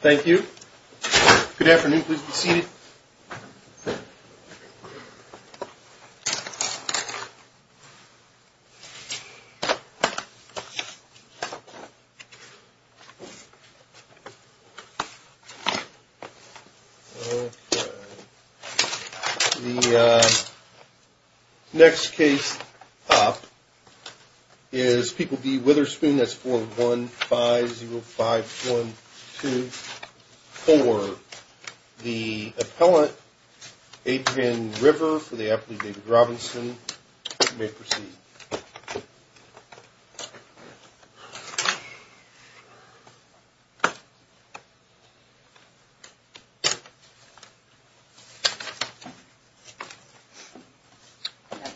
Thank you. Good afternoon. Please be seated. The next case up is People v. Witherspoon. That's 41505124. The appellant, Adrienne River, for the appellate David Robinson. You may proceed.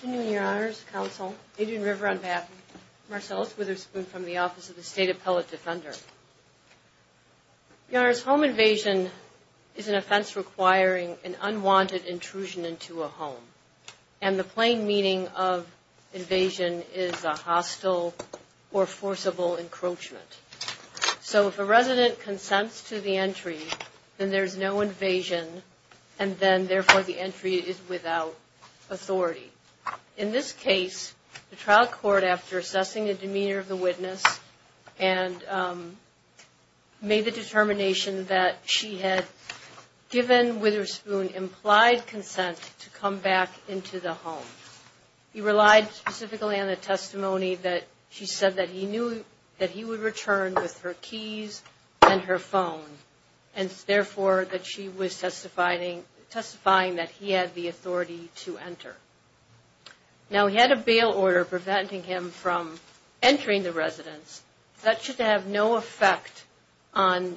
Good afternoon, Your Honors, Counsel, Adrienne River on behalf of Marcellus Witherspoon from the Office of the State Appellate Defender. Your Honors, home invasion is an offense requiring an unwanted intrusion into a home, and the plain meaning of invasion is a hostile or forcible encroachment. So if a resident consents to the entry, then there's no invasion, and then therefore the entry is without authority. In this case, the trial court, after assessing the demeanor of the witness, made the determination that she had given Witherspoon implied consent to come back into the home. He relied specifically on the testimony that she said that he knew that he would return with her keys and her phone, and therefore that she was testifying that he had the authority to enter. Now, he had a bail order preventing him from entering the residence. That should have no effect on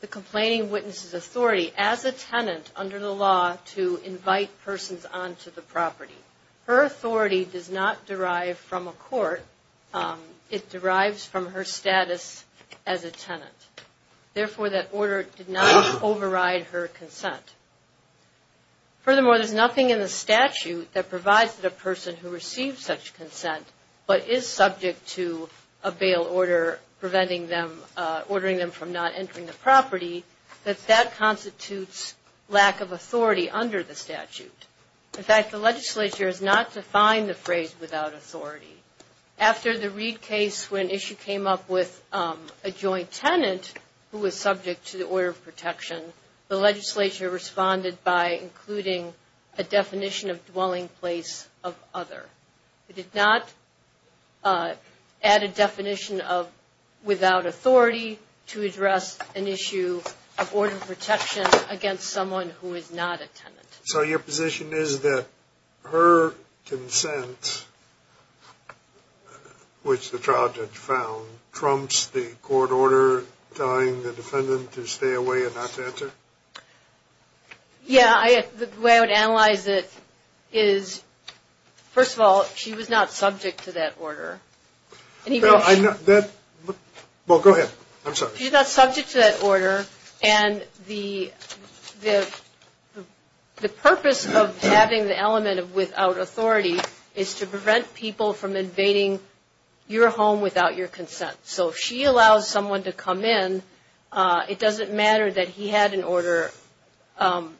the complaining witness's authority as a tenant under the law to invite persons onto the property. Her authority does not derive from a court. It derives from her status as a tenant. Therefore, that order did not override her consent. Furthermore, there's nothing in the statute that provides that a person who receives such consent but is subject to a bail order preventing them, ordering them from not entering the property, that that constitutes lack of authority under the statute. In fact, the legislature has not defined the phrase without authority. After the Reed case, when an issue came up with a joint tenant who was subject to the order of protection, the legislature responded by including a definition of dwelling place of other. It did not add a definition of without authority to address an issue of order of protection against someone who is not a tenant. So your position is that her consent, which the trial judge found, trumps the court order telling the defendant to stay away and not to enter? Yeah, the way I would analyze it is, first of all, she was not subject to that order. Well, go ahead. I'm sorry. She's not subject to that order, and the purpose of having the element of without authority is to prevent people from invading your home without your consent. So if she allows someone to come in, it doesn't matter that he had an order from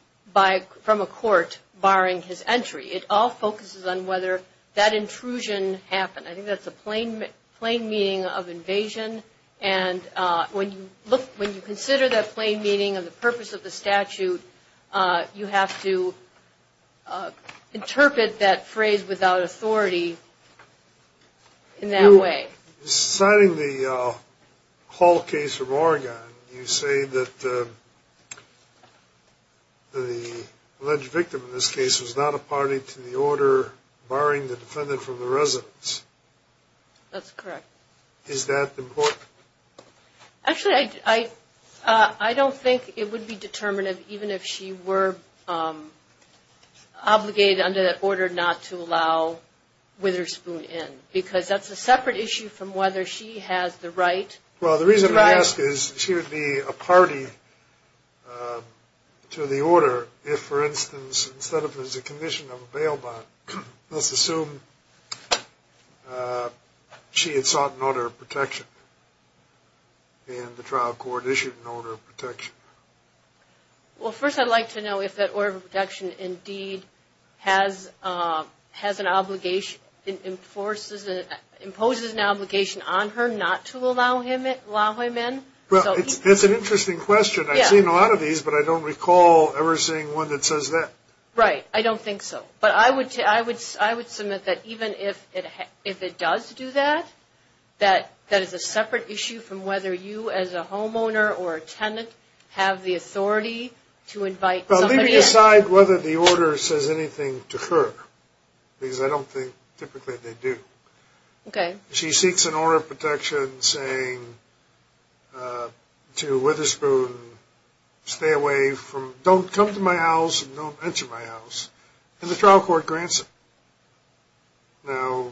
a court barring his entry. It all focuses on whether that intrusion happened. I think that's a plain meaning of invasion, and when you consider that plain meaning of the purpose of the statute, you have to interpret that phrase without authority in that way. Signing the Hall case from Oregon, you say that the alleged victim in this case was not a party to the order barring the defendant from the residence. That's correct. Is that important? Actually, I don't think it would be determinative even if she were obligated under that order not to allow Witherspoon in, because that's a separate issue from whether she has the right. Well, the reason I ask is she would be a party to the order if, for instance, instead of as a condition of a bail bond, let's assume she had sought an order of protection and the trial court issued an order of protection. Well, first I'd like to know if that order of protection indeed imposes an obligation on her not to allow him in. That's an interesting question. I've seen a lot of these, but I don't recall ever seeing one that says that. Right, I don't think so. But I would submit that even if it does do that, that is a separate issue from whether you as a homeowner or a tenant have the authority to invite somebody in. Well, let me decide whether the order says anything to her, because I don't think typically they do. Okay. She seeks an order of protection saying to Witherspoon, stay away from, don't come to my house and don't enter my house, and the trial court grants it. Now,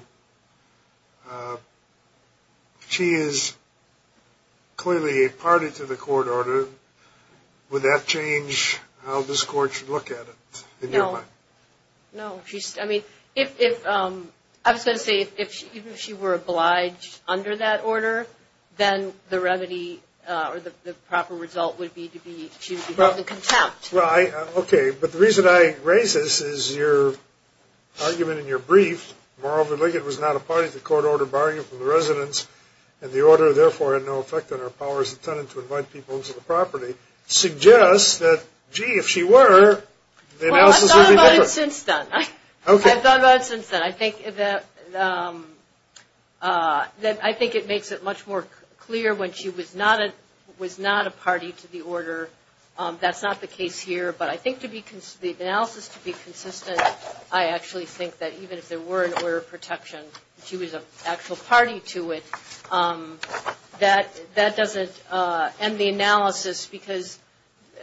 if she is clearly a party to the court order, would that change how this court should look at it in your mind? No. I mean, I was going to say, even if she were obliged under that order, then the remedy or the proper result would be she would be brought to contempt. Right. Okay. But the reason I raise this is your argument in your brief, moreover, Liggett was not a party to the court order barring him from the residence, and the order therefore had no effect on her power as a tenant to invite people into the property, suggests that, gee, if she were, the analysis would be better. Well, I've thought about it since then. Okay. I've thought about it since then. I think that it makes it much more clear when she was not a party to the order. That's not the case here, but I think the analysis to be consistent, I actually think that even if there were an order of protection and she was an actual party to it, that doesn't end the analysis because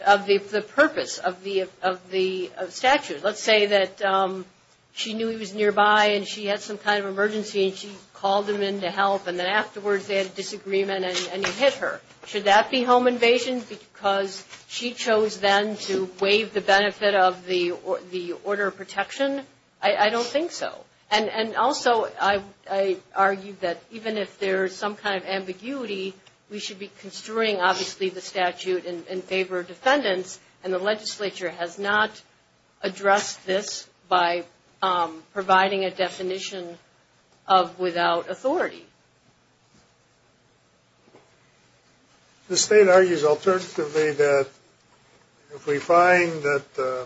of the purpose of the statute. Let's say that she knew he was nearby and she had some kind of emergency and she called him in to help, and then afterwards they had a disagreement and he hit her. Should that be home invasion because she chose then to waive the benefit of the order of protection? I don't think so. And also, I argue that even if there is some kind of ambiguity, we should be construing, obviously, the statute in favor of defendants, and the legislature has not addressed this by providing a definition of without authority. The state argues alternatively that if we find that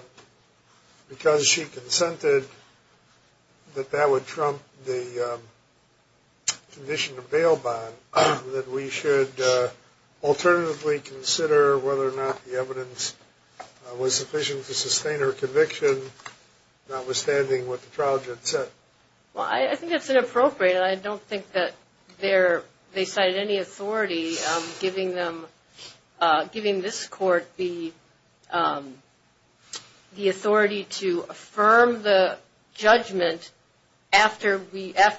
because she consented, that that would trump the condition of bail bond, that we should alternatively consider whether or not the evidence was sufficient to sustain her conviction, notwithstanding what the trial judge said. Well, I think that's inappropriate. And I don't think that they cited any authority, giving this court the authority to affirm the judgment after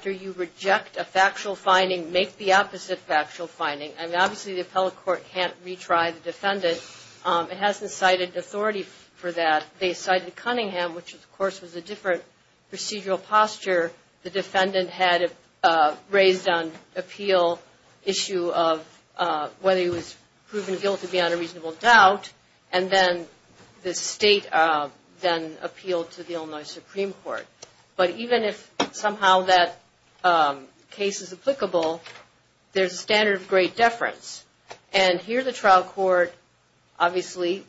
you reject a factual finding, make the opposite factual finding. I mean, obviously, the appellate court can't retry the defendant. It hasn't cited authority for that. They cited Cunningham, which, of course, was a different procedural posture. The defendant had raised an appeal issue of whether he was proven guilty beyond a reasonable doubt, and then the state then appealed to the Illinois Supreme Court. But even if somehow that case is applicable, there's a standard of great deference. And here the trial court obviously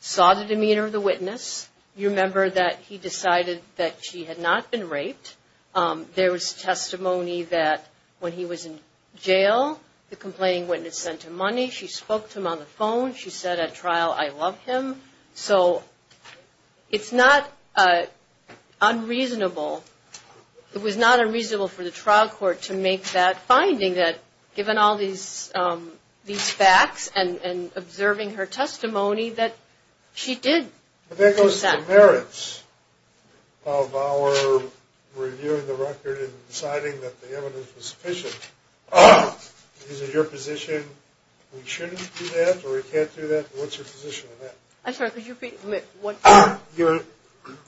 saw the demeanor of the witness. You remember that he decided that she had not been raped. There was testimony that when he was in jail, the complaining witness sent him money. She spoke to him on the phone. She said at trial, I love him. So it's not unreasonable. It was not unreasonable for the trial court to make that finding, that given all these facts and observing her testimony, that she did. But that goes to the merits of our reviewing the record and deciding that the evidence was sufficient. Is it your position we shouldn't do that or we can't do that? What's your position on that? I'm sorry, could you repeat?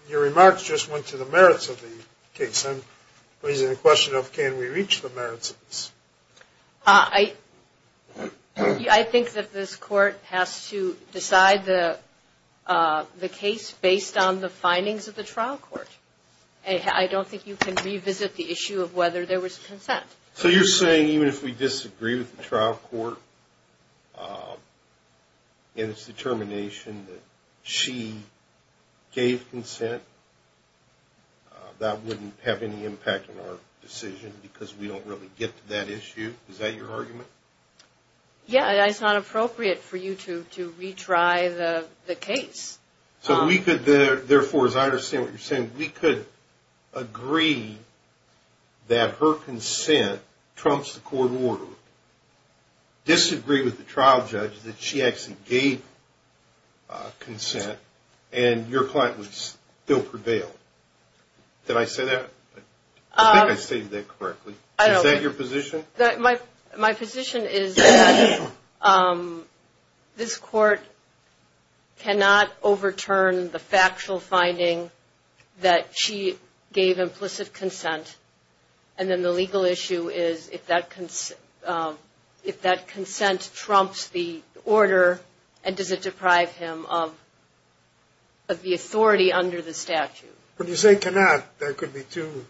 Your remarks just went to the merits of the case. I'm raising the question of can we reach the merits of this. I think that this court has to decide the case based on the findings of the trial court. I don't think you can revisit the issue of whether there was consent. So you're saying even if we disagree with the trial court in its determination that she gave consent, that wouldn't have any impact on our decision because we don't really get to that issue? Is that your argument? Yeah, it's not appropriate for you to retry the case. So we could therefore, as I understand what you're saying, we could agree that her consent trumps the court order, disagree with the trial judge that she actually gave consent, and your client would still prevail. Did I say that? I think I stated that correctly. Is that your position? My position is that this court cannot overturn the factual finding that she gave implicit consent, and then the legal issue is if that consent trumps the order, and does it deprive him of the authority under the statute? When you say cannot, there could be two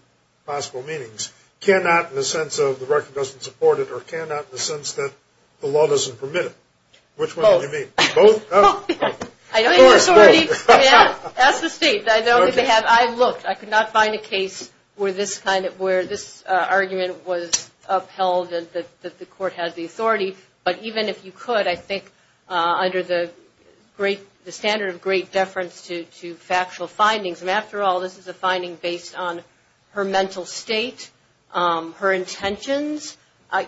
possible meanings. Cannot in the sense of the record doesn't support it, or cannot in the sense that the law doesn't permit it. Which one do you mean? Both. Both? Of course, both. Ask the state. I looked. I could not find a case where this argument was upheld that the court had the authority. But even if you could, I think under the standard of great deference to factual findings, and after all this is a finding based on her mental state, her intentions.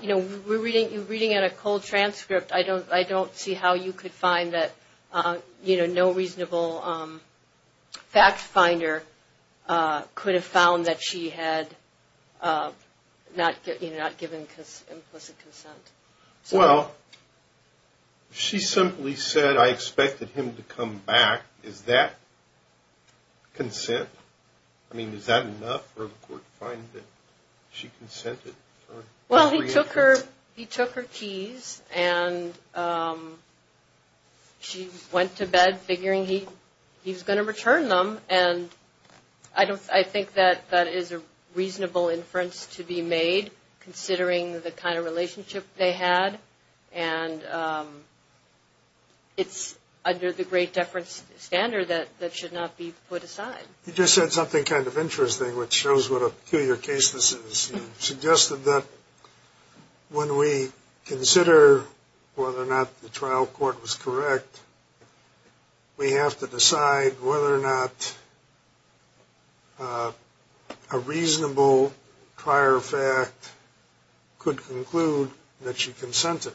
You know, we're reading it in a cold transcript. I don't see how you could find that, you know, no reasonable fact finder could have found that she had not given implicit consent. Well, she simply said, I expected him to come back. Is that consent? I mean, is that enough for the court to find that she consented? Well, he took her keys, and she went to bed figuring he was going to return them. And I think that that is a reasonable inference to be made, considering the kind of relationship they had. And it's under the great deference standard that should not be put aside. You just said something kind of interesting, which shows what a peculiar case this is. You suggested that when we consider whether or not the trial court was correct, we have to decide whether or not a reasonable prior fact could conclude that she consented.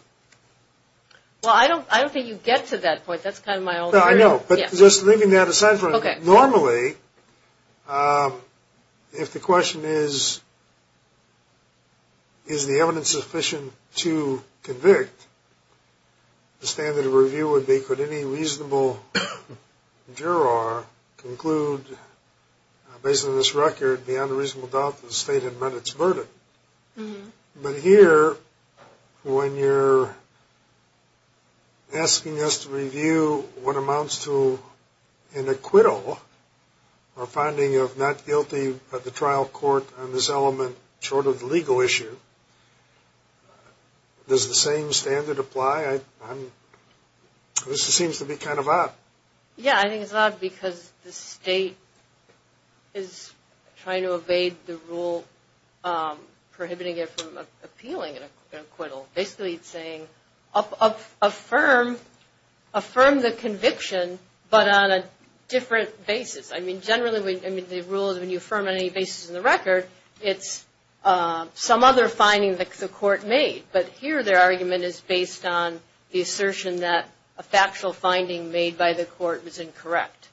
Well, I don't think you get to that point. That's kind of my old theory. No, I know. But just leaving that aside for a moment, normally if the question is, is the evidence sufficient to convict, the standard of review would be, could any reasonable juror conclude, based on this record, beyond a reasonable doubt that the state had met its burden. But here, when you're asking us to review what amounts to an acquittal or finding of not guilty of the trial court on this element, short of the legal issue, does the same standard apply? This seems to be kind of odd. Yeah, I think it's odd because the state is trying to evade the rule, prohibiting it from appealing an acquittal. Basically it's saying, affirm the conviction, but on a different basis. I mean, generally the rule is when you affirm on any basis in the record, it's some other finding that the court made. But here their argument is based on the assertion that a factual finding made by the court was incorrect.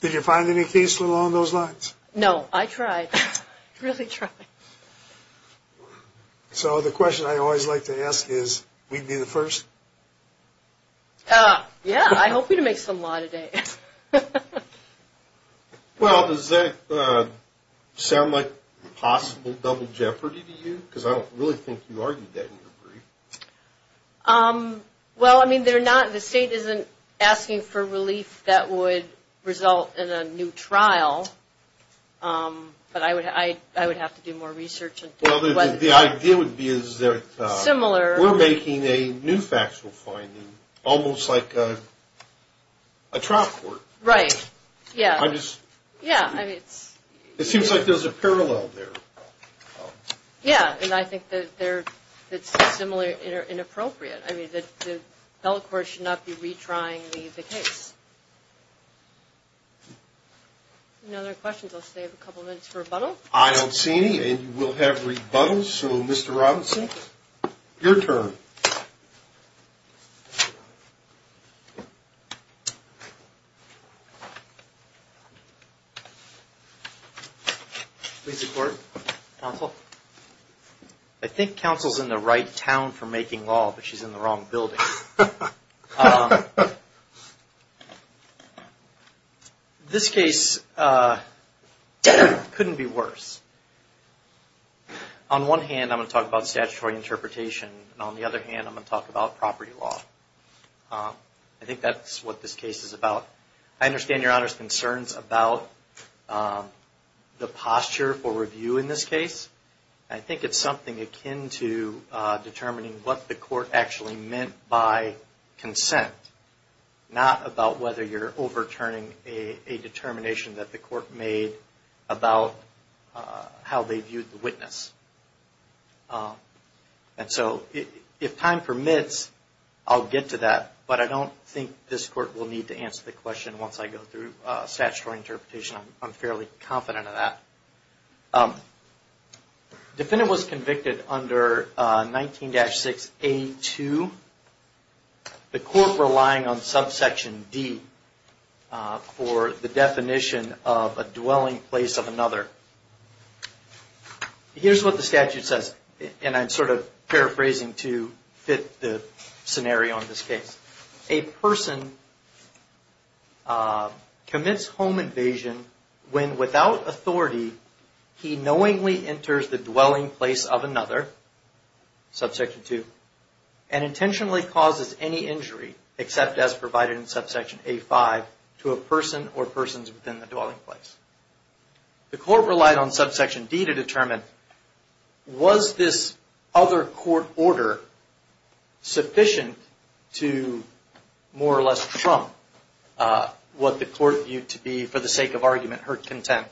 Did you find any case along those lines? No, I tried, really tried. So the question I always like to ask is, we'd be the first? Yeah, I hope we can make some law today. Well, does that sound like possible double jeopardy to you? Because I don't really think you argued that in your brief. Well, I mean, the state isn't asking for relief that would result in a new trial. But I would have to do more research. Well, the idea would be is that we're making a new factual finding, almost like a trial court. Right, yeah. It seems like there's a parallel there. Yeah, and I think that's similar and inappropriate. I mean, the federal court should not be retrying the case. Any other questions? I'll save a couple minutes for rebuttal. I don't see any, and you will have rebuttals. All right, so Mr. Robinson, your turn. Please record, counsel. I think counsel's in the right town for making law, but she's in the wrong building. This case couldn't be worse. On one hand, I'm going to talk about statutory interpretation, and on the other hand, I'm going to talk about property law. I think that's what this case is about. I understand Your Honor's concerns about the posture for review in this case. I think it's something akin to determining what the court actually meant by consent, not about whether you're overturning a determination that the court made about how they viewed the witness. And so if time permits, I'll get to that, but I don't think this court will need to answer the question once I go through statutory interpretation. I'm fairly confident of that. Defendant was convicted under 19-6A2. The court relying on subsection D for the definition of a dwelling place of another. Here's what the statute says, and I'm sort of paraphrasing to fit the scenario in this case. A person commits home invasion when, without authority, he knowingly enters the dwelling place of another, subsection 2, and intentionally causes any injury, except as provided in subsection A-5, to a person or persons within the dwelling place. Was this other court order sufficient to more or less trump what the court viewed to be, for the sake of argument, her consent?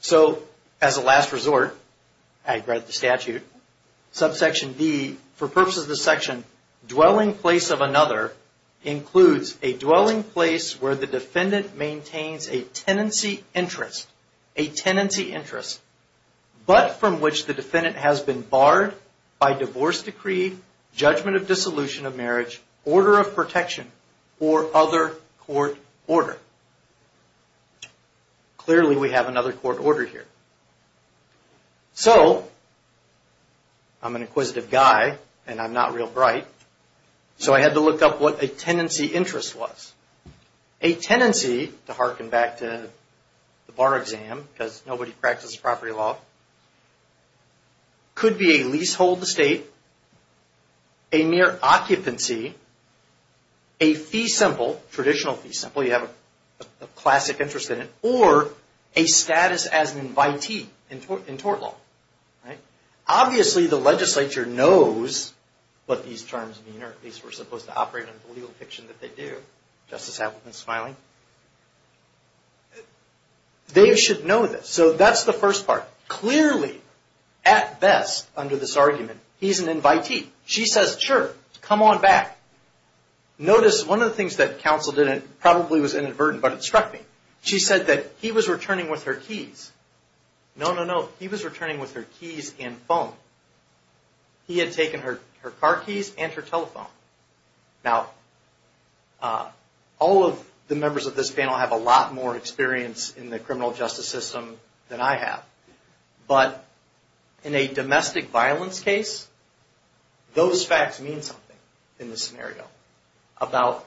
So, as a last resort, I read the statute. Subsection D, for purposes of this section, dwelling place of another includes a dwelling place where the defendant maintains a tenancy interest, but from which the defendant has been barred by divorce decree, judgment of dissolution of marriage, order of protection, or other court order. Clearly, we have another court order here. So, I'm an inquisitive guy, and I'm not real bright, so I had to look up what a tenancy interest was. A tenancy, to harken back to the bar exam, because nobody practices property law, could be a leasehold estate, a mere occupancy, a fee simple, traditional fee simple, you have a classic interest in it, or a status as an invitee in tort law. Obviously, the legislature knows what these terms mean, or at least were supposed to operate under the legal fiction that they do. Justice Appleton is smiling. They should know this. So, that's the first part. Clearly, at best, under this argument, he's an invitee. She says, sure, come on back. Notice one of the things that counsel probably was inadvertent, but it struck me. She said that he was returning with her keys. No, no, no. He was returning with her keys and phone. He had taken her car keys and her telephone. Now, all of the members of this panel have a lot more experience in the criminal justice system than I have, but in a domestic violence case, those facts mean something in this scenario, about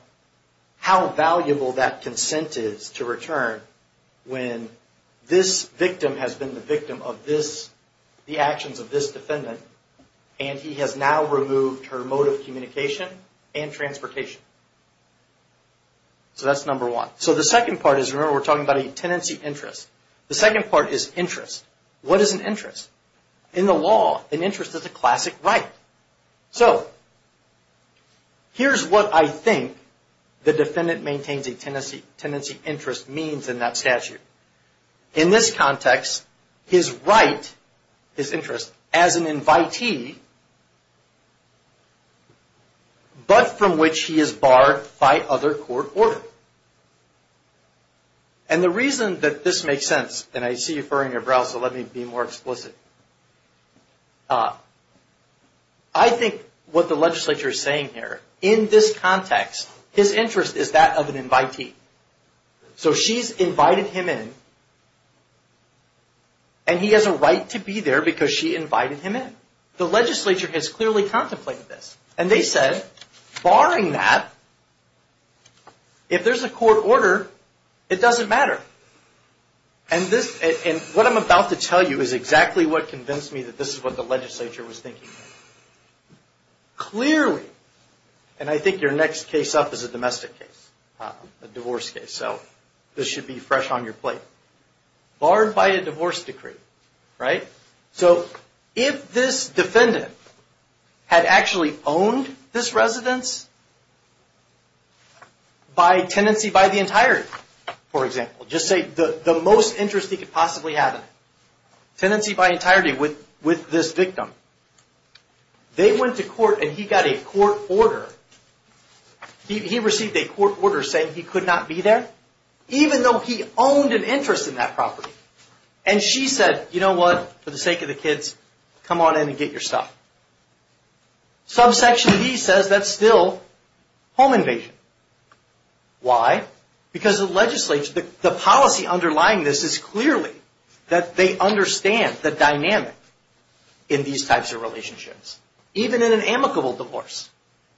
how valuable that consent is to return when this victim has been the victim of the actions of this defendant, and he has now removed her mode of communication and transportation. So, that's number one. So, the second part is, remember, we're talking about a tenancy interest. The second part is interest. What is an interest? In the law, an interest is a classic right. So, here's what I think the defendant maintains a tenancy interest means in that statute. In this context, his right, his interest, as an invitee, but from which he is barred by other court order. And the reason that this makes sense, and I see you furrowing your brows, so let me be more explicit. I think what the legislature is saying here, in this context, his interest is that of an invitee. So, she's invited him in, and he has a right to be there because she invited him in. The legislature has clearly contemplated this. And they said, barring that, if there's a court order, it doesn't matter. And what I'm about to tell you is exactly what convinced me that this is what the legislature was thinking. Clearly, and I think your next case up is a domestic case, a divorce case, so this should be fresh on your plate. Barred by a divorce decree, right? So, if this defendant had actually owned this residence by tenancy by the entirety, for example. Just say the most interest he could possibly have in it. Tenancy by entirety with this victim. They went to court and he got a court order. He received a court order saying he could not be there, even though he owned an interest in that property. And she said, you know what, for the sake of the kids, come on in and get your stuff. Subsection of E says that's still home invasion. Why? Because the policy underlying this is clearly that they understand the dynamic in these types of relationships. Even in an amicable divorce,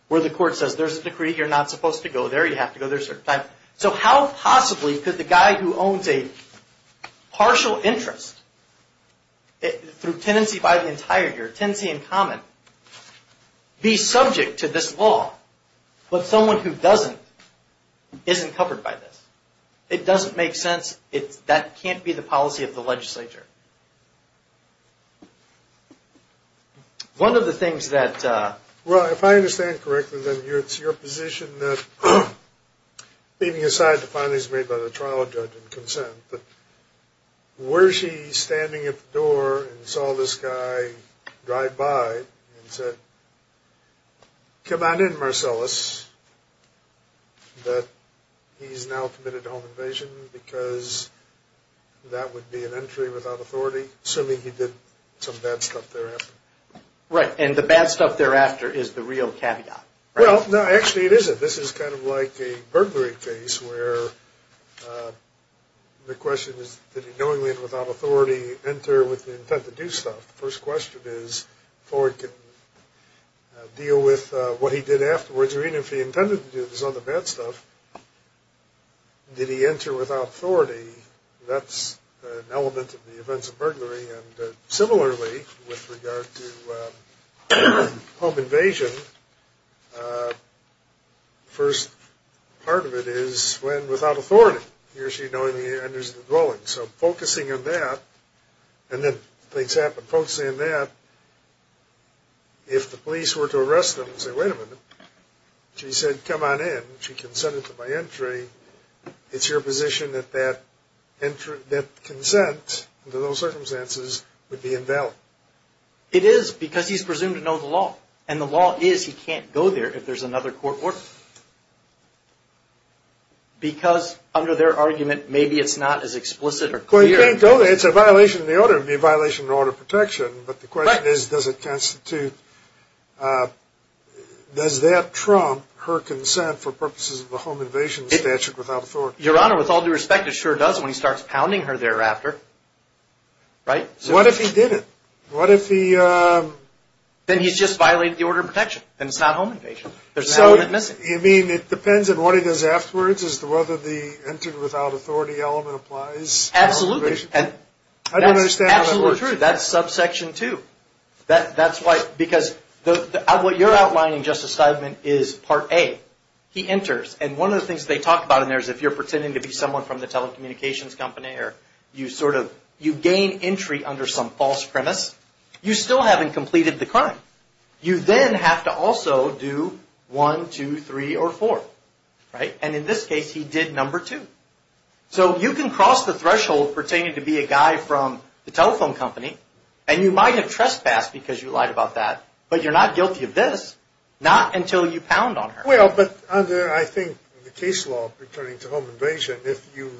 where the court says there's a decree, you're not supposed to go there, you have to go there a certain time. So, how possibly could the guy who owns a partial interest through tenancy by the entirety or tenancy in common be subject to this law, but someone who doesn't isn't covered by this? It doesn't make sense. That can't be the policy of the legislature. One of the things that... Well, if I understand correctly, then it's your position that, leaving aside the findings made by the trial judge and consent, but were she standing at the door and saw this guy drive by and said, come on in, Marcellus, that he's now committed home invasion because that would be an entry without authority, assuming he did some bad stuff thereafter. Right, and the bad stuff thereafter is the real caveat. Well, no, actually it isn't. This is kind of like a burglary case where the question is, did he knowingly and without authority enter with the intent to do stuff? The first question is, can Ford deal with what he did afterwards or even if he intended to do this other bad stuff, did he enter without authority? That's an element of the events of burglary. And similarly, with regard to home invasion, the first part of it is when without authority, he or she knowingly enters the dwelling. So focusing on that, and then things happen, focusing on that, if the police were to arrest him and say, wait a minute, she said, come on in, she consented to my entry, it's your position that that consent under those circumstances would be invalid. It is because he's presumed to know the law, and the law is he can't go there if there's another court order. Because under their argument, maybe it's not as explicit or clear. Well, he can't go there. It's a violation of the order. It would be a violation of the order of protection. But the question is, does it constitute, does that trump her consent for purposes of the home invasion statute without authority? Your Honor, with all due respect, it sure does when he starts pounding her thereafter. Right? What if he didn't? What if he? Then he's just violated the order of protection. Then it's not home invasion. There's an element missing. You mean it depends on what he does afterwards as to whether the entered without authority element applies? Absolutely. I don't understand how that works. Absolutely true. That's subsection two. That's why, because what you're outlining, Justice Steidman, is part A. He enters, and one of the things they talk about in there is if you're pretending to be someone from the telecommunications company or you sort of, you gain entry under some false premise, you still haven't completed the crime. You then have to also do one, two, three, or four. Right? And in this case, he did number two. So you can cross the threshold pertaining to be a guy from the telephone company, and you might have trespassed because you lied about that, but you're not guilty of this, not until you pound on her. Well, but under, I think, the case law pertaining to home invasion, if you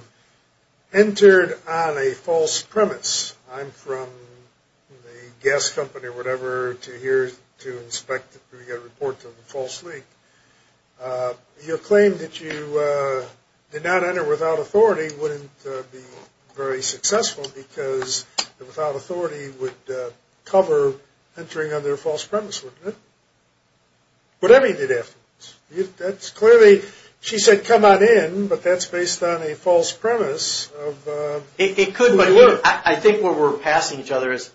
entered on a false premise, I'm from the gas company or whatever to here to inspect if we get a report of a false leak, your claim that you did not enter without authority wouldn't be very successful because without authority would cover entering under a false premise, wouldn't it? Whatever you did afterwards. That's clearly, she said, come on in, but that's based on a false premise of who you are. I think where we're passing each other is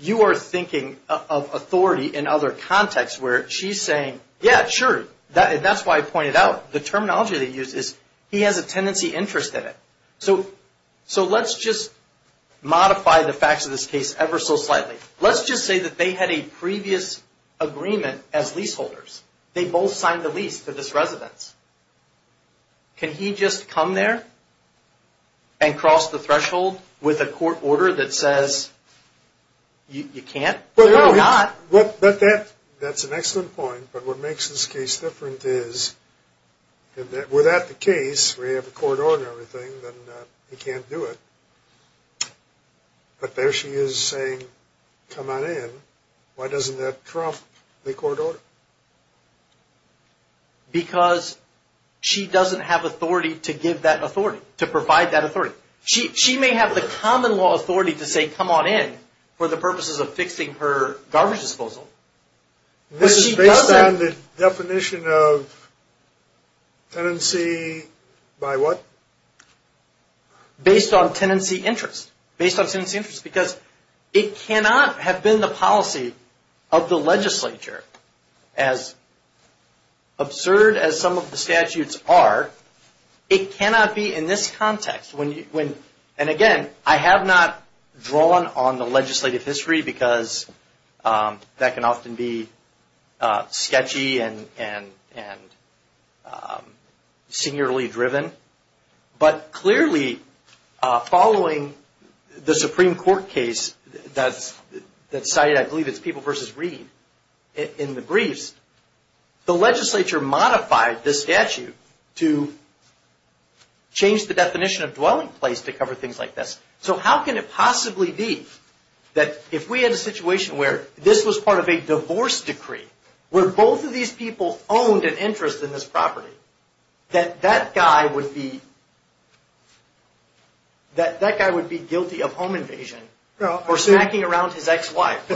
you are thinking of authority in other contexts where she's saying, yeah, sure, that's why I pointed out the terminology they used is he has a tendency interest in it. So let's just modify the facts of this case ever so slightly. Let's just say that they had a previous agreement as leaseholders. They both signed the lease to this residence. Can he just come there and cross the threshold with a court order that says you can't? That's an excellent point. But what makes this case different is that without the case, we have a court order and everything, then he can't do it. But there she is saying, come on in. Why doesn't that trump the court order? Because she doesn't have authority to give that authority, to provide that authority. She may have the common law authority to say, come on in, for the purposes of fixing her garbage disposal. This is based on the definition of tendency by what? Based on tendency interest. Based on tendency interest because it cannot have been the policy of the legislature. As absurd as some of the statutes are, it cannot be in this context. And again, I have not drawn on the legislative history because that can often be sketchy and seniorly driven. But clearly, following the Supreme Court case that cited, I believe it's People v. Reed in the briefs, the legislature modified the statute to change the definition of dwelling place to cover things like this. So how can it possibly be that if we had a situation where this was part of a divorce decree, where both of these people owned an interest in this property, that that guy would be guilty of home invasion? Or smacking around his ex-wife?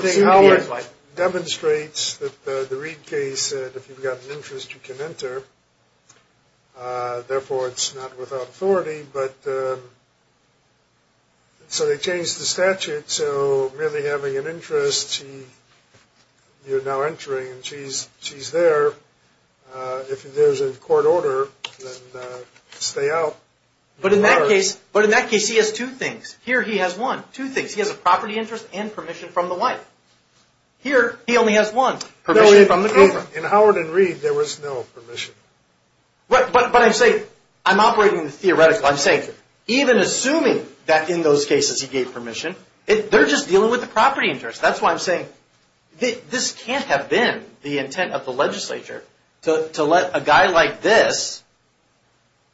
Demonstrates that the Reed case, if you've got an interest, you can enter. Therefore, it's not without authority. So they changed the statute so merely having an interest, you're now entering and she's there. If there's a court order, then stay out. But in that case, he has two things. Here he has one. Two things. He has a property interest and permission from the wife. Here, he only has one. Permission from the girlfriend. In Howard v. Reed, there was no permission. But I'm saying I'm operating the theoretical. I'm saying even assuming that in those cases he gave permission, they're just dealing with the property interest. That's why I'm saying this can't have been the intent of the legislature to let a guy like this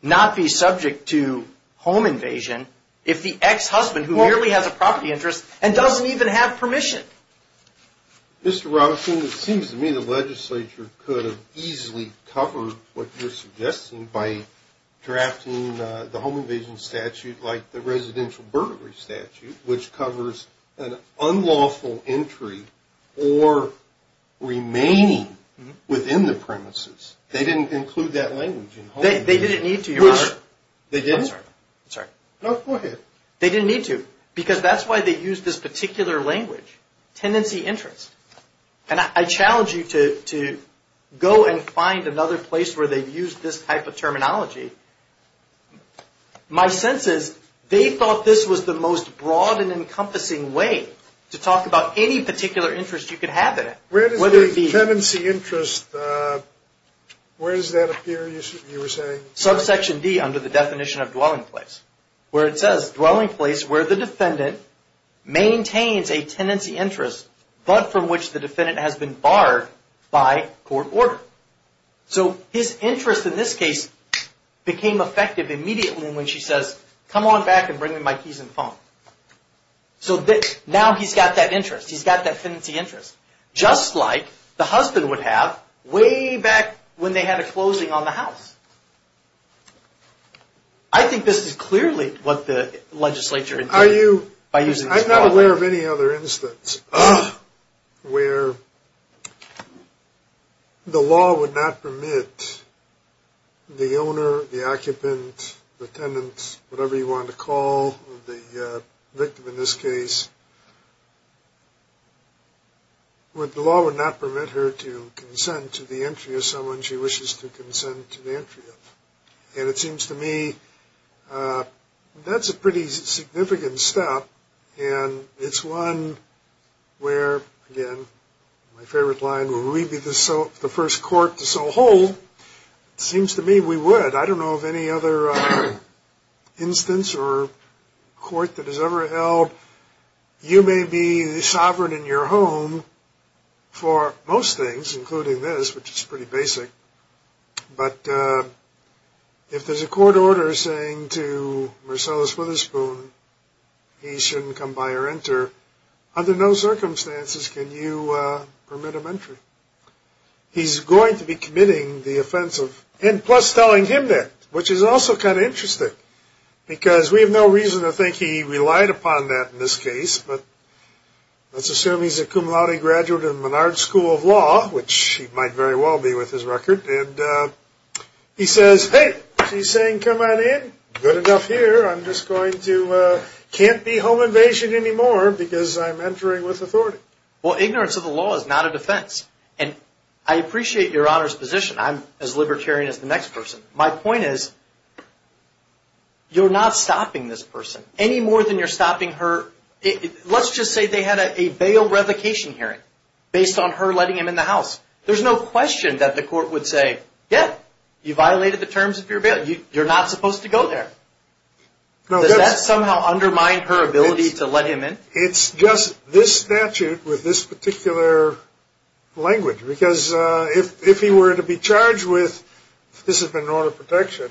not be subject to home invasion if the ex-husband who merely has a property interest and doesn't even have permission. Mr. Robinson, it seems to me the legislature could have easily covered what you're suggesting by drafting the home invasion statute like the residential burglary statute, which covers an unlawful entry or remaining within the premises. They didn't include that language in home invasion. They didn't need to, Your Honor. They didn't? I'm sorry. No, go ahead. They didn't need to because that's why they used this particular language, tenancy interest. And I challenge you to go and find another place where they've used this type of terminology. My sense is they thought this was the most broad and encompassing way to talk about any particular interest you could have in it. Where does the tenancy interest, where does that appear, you were saying? Subsection D under the definition of dwelling place where it says dwelling place where the defendant maintains a tenancy interest but from which the defendant has been barred by court order. So his interest in this case became effective immediately when she says, come on back and bring me my keys and phone. So now he's got that interest. He's got that tenancy interest. Just like the husband would have way back when they had a closing on the house. I think this is clearly what the legislature did by using this product. I'm not aware of any other instance where the law would not permit the owner, the occupant, the tenant, whatever you want to call the victim in this case, where the law would not permit her to consent to the entry of someone she wishes to consent to the entry of. And it seems to me that's a pretty significant step. And it's one where, again, my favorite line, will we be the first court to so hold? It seems to me we would. I don't know of any other instance or court that has ever held. You may be the sovereign in your home for most things, including this, which is pretty basic. But if there's a court order saying to Marcellus Witherspoon he shouldn't come by or enter, under no circumstances can you permit him entry. He's going to be committing the offense of, and plus telling him that, which is also kind of interesting. Because we have no reason to think he relied upon that in this case. But let's assume he's a cum laude graduate of the Menard School of Law, which he might very well be with his record. And he says, hey, she's saying come on in. Good enough here. I'm just going to, can't be home invasion anymore because I'm entering with authority. Well, ignorance of the law is not a defense. And I appreciate Your Honor's position. I'm as libertarian as the next person. My point is you're not stopping this person any more than you're stopping her. Let's just say they had a bail revocation hearing based on her letting him in the house. There's no question that the court would say, yeah, you violated the terms of your bail. You're not supposed to go there. Does that somehow undermine her ability to let him in? It's just this statute with this particular language. Because if he were to be charged with this has been an order of protection,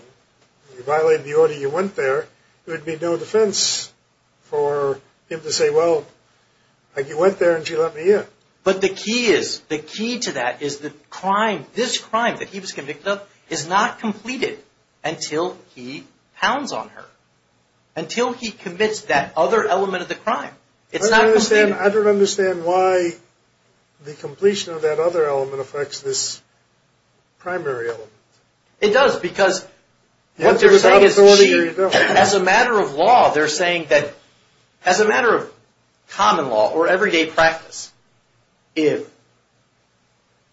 you violated the order, you went there, there would be no defense for him to say, well, you went there and she let me in. But the key is, the key to that is the crime, this crime that he was convicted of is not completed until he pounds on her. Until he commits that other element of the crime. I don't understand why the completion of that other element affects this primary element. It does because what they're saying is as a matter of law, they're saying that as a matter of common law or everyday practice, if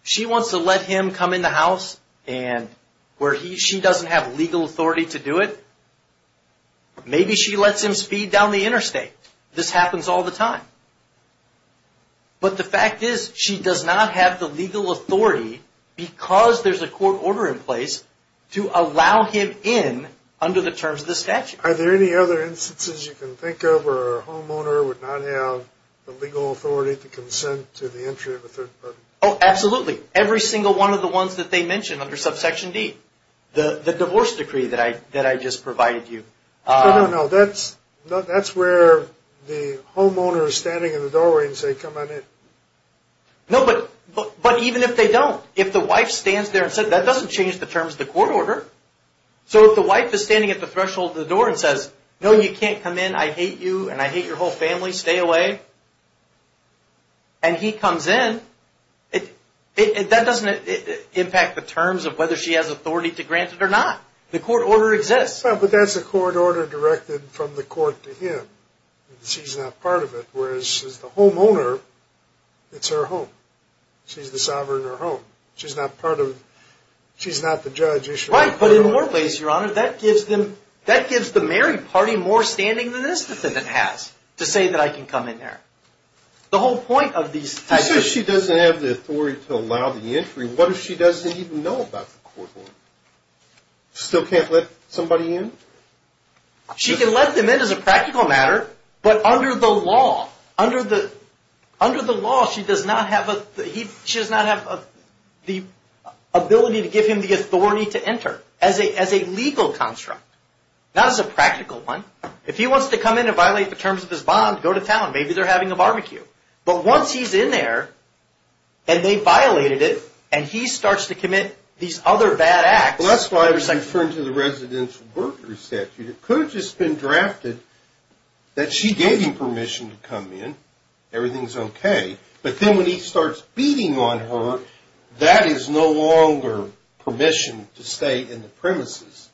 she wants to let him come in the house and where she doesn't have legal authority to do it, maybe she lets him speed down the interstate. This happens all the time. But the fact is, she does not have the legal authority because there's a court order in place to allow him in under the terms of the statute. Are there any other instances you can think of where a homeowner would not have the legal authority to consent to the entry of a third party? Oh, absolutely. Every single one of the ones that they mention under subsection D. The divorce decree that I just provided you. No, no, no. That's where the homeowner is standing in the doorway and saying, come on in. No, but even if they don't, if the wife stands there and says, that doesn't change the terms of the court order. So if the wife is standing at the threshold of the door and says, no, you can't come in. I hate you and I hate your whole family. Stay away. And he comes in, that doesn't impact the terms of whether she has authority to grant it or not. The court order exists. But that's a court order directed from the court to him. She's not part of it. Whereas, as the homeowner, it's her home. She's the sovereign of her home. She's not part of it. She's not the judge. Right, but in more ways, Your Honor, that gives the married party more standing than this defendant has to say that I can come in there. The whole point of these. She says she doesn't have the authority to allow the entry. What if she doesn't even know about the court order? Still can't let somebody in? She can let them in as a practical matter. But under the law, she does not have the ability to give him the authority to enter as a legal construct. Not as a practical one. If he wants to come in and violate the terms of his bond, go to town. Maybe they're having a barbecue. But once he's in there, and they violated it, and he starts to commit these other bad acts. Well, that's why I was referring to the residential burglary statute. It could have just been drafted that she gave him permission to come in. Everything's okay. But then when he starts beating on her, that is no longer permission to stay in the premises.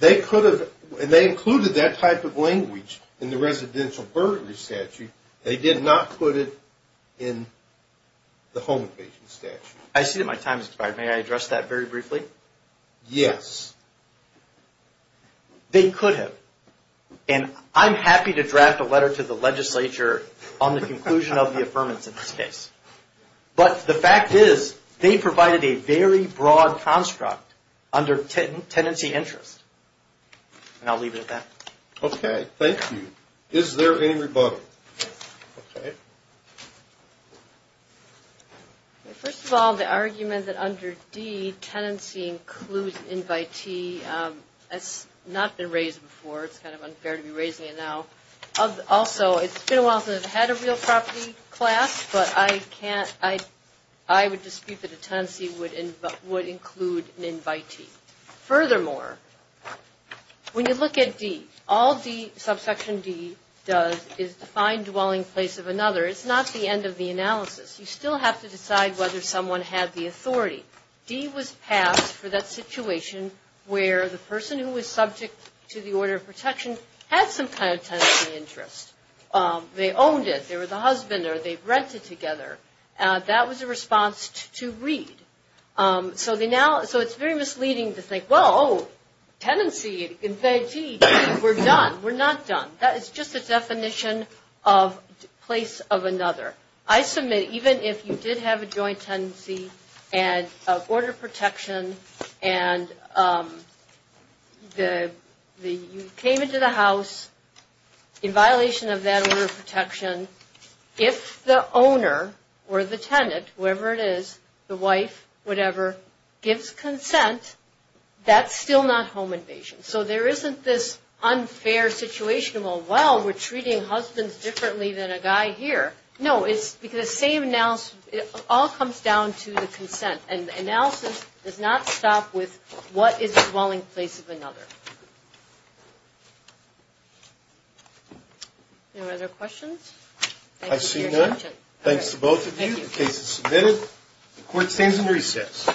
They included that type of language in the residential burglary statute. They did not put it in the home invasion statute. I see that my time has expired. May I address that very briefly? Yes. They could have. And I'm happy to draft a letter to the legislature on the conclusion of the affirmance of this case. But the fact is, they provided a very broad construct under tenancy interest. And I'll leave it at that. Okay. Thank you. Is there any rebuttal? Okay. First of all, the argument that under D, tenancy includes invitee has not been raised before. It's kind of unfair to be raising it now. Also, it's been a while since I've had a real property class, but I would dispute that a tenancy would include an invitee. Furthermore, when you look at D, all subsection D does is define dwelling place of another. It's not the end of the analysis. You still have to decide whether someone had the authority. D was passed for that situation where the person who was subject to the order of protection had some kind of tenancy interest. They owned it. They were the husband, or they rented together. That was a response to read. So it's very misleading to think, well, tenancy, invitee, we're done. We're not done. That is just a definition of place of another. I submit, even if you did have a joint tenancy and order of protection, and you came into the house in violation of that order of protection, if the owner or the tenant, whoever it is, the wife, whatever, gives consent, that's still not home invasion. So there isn't this unfair situation of, well, we're treating husbands differently than a guy here. No, it's because the same analysis, it all comes down to the consent, and the analysis does not stop with what is a dwelling place of another. Any other questions? I see none. Thanks to both of you. The case is submitted. The court stands in recess.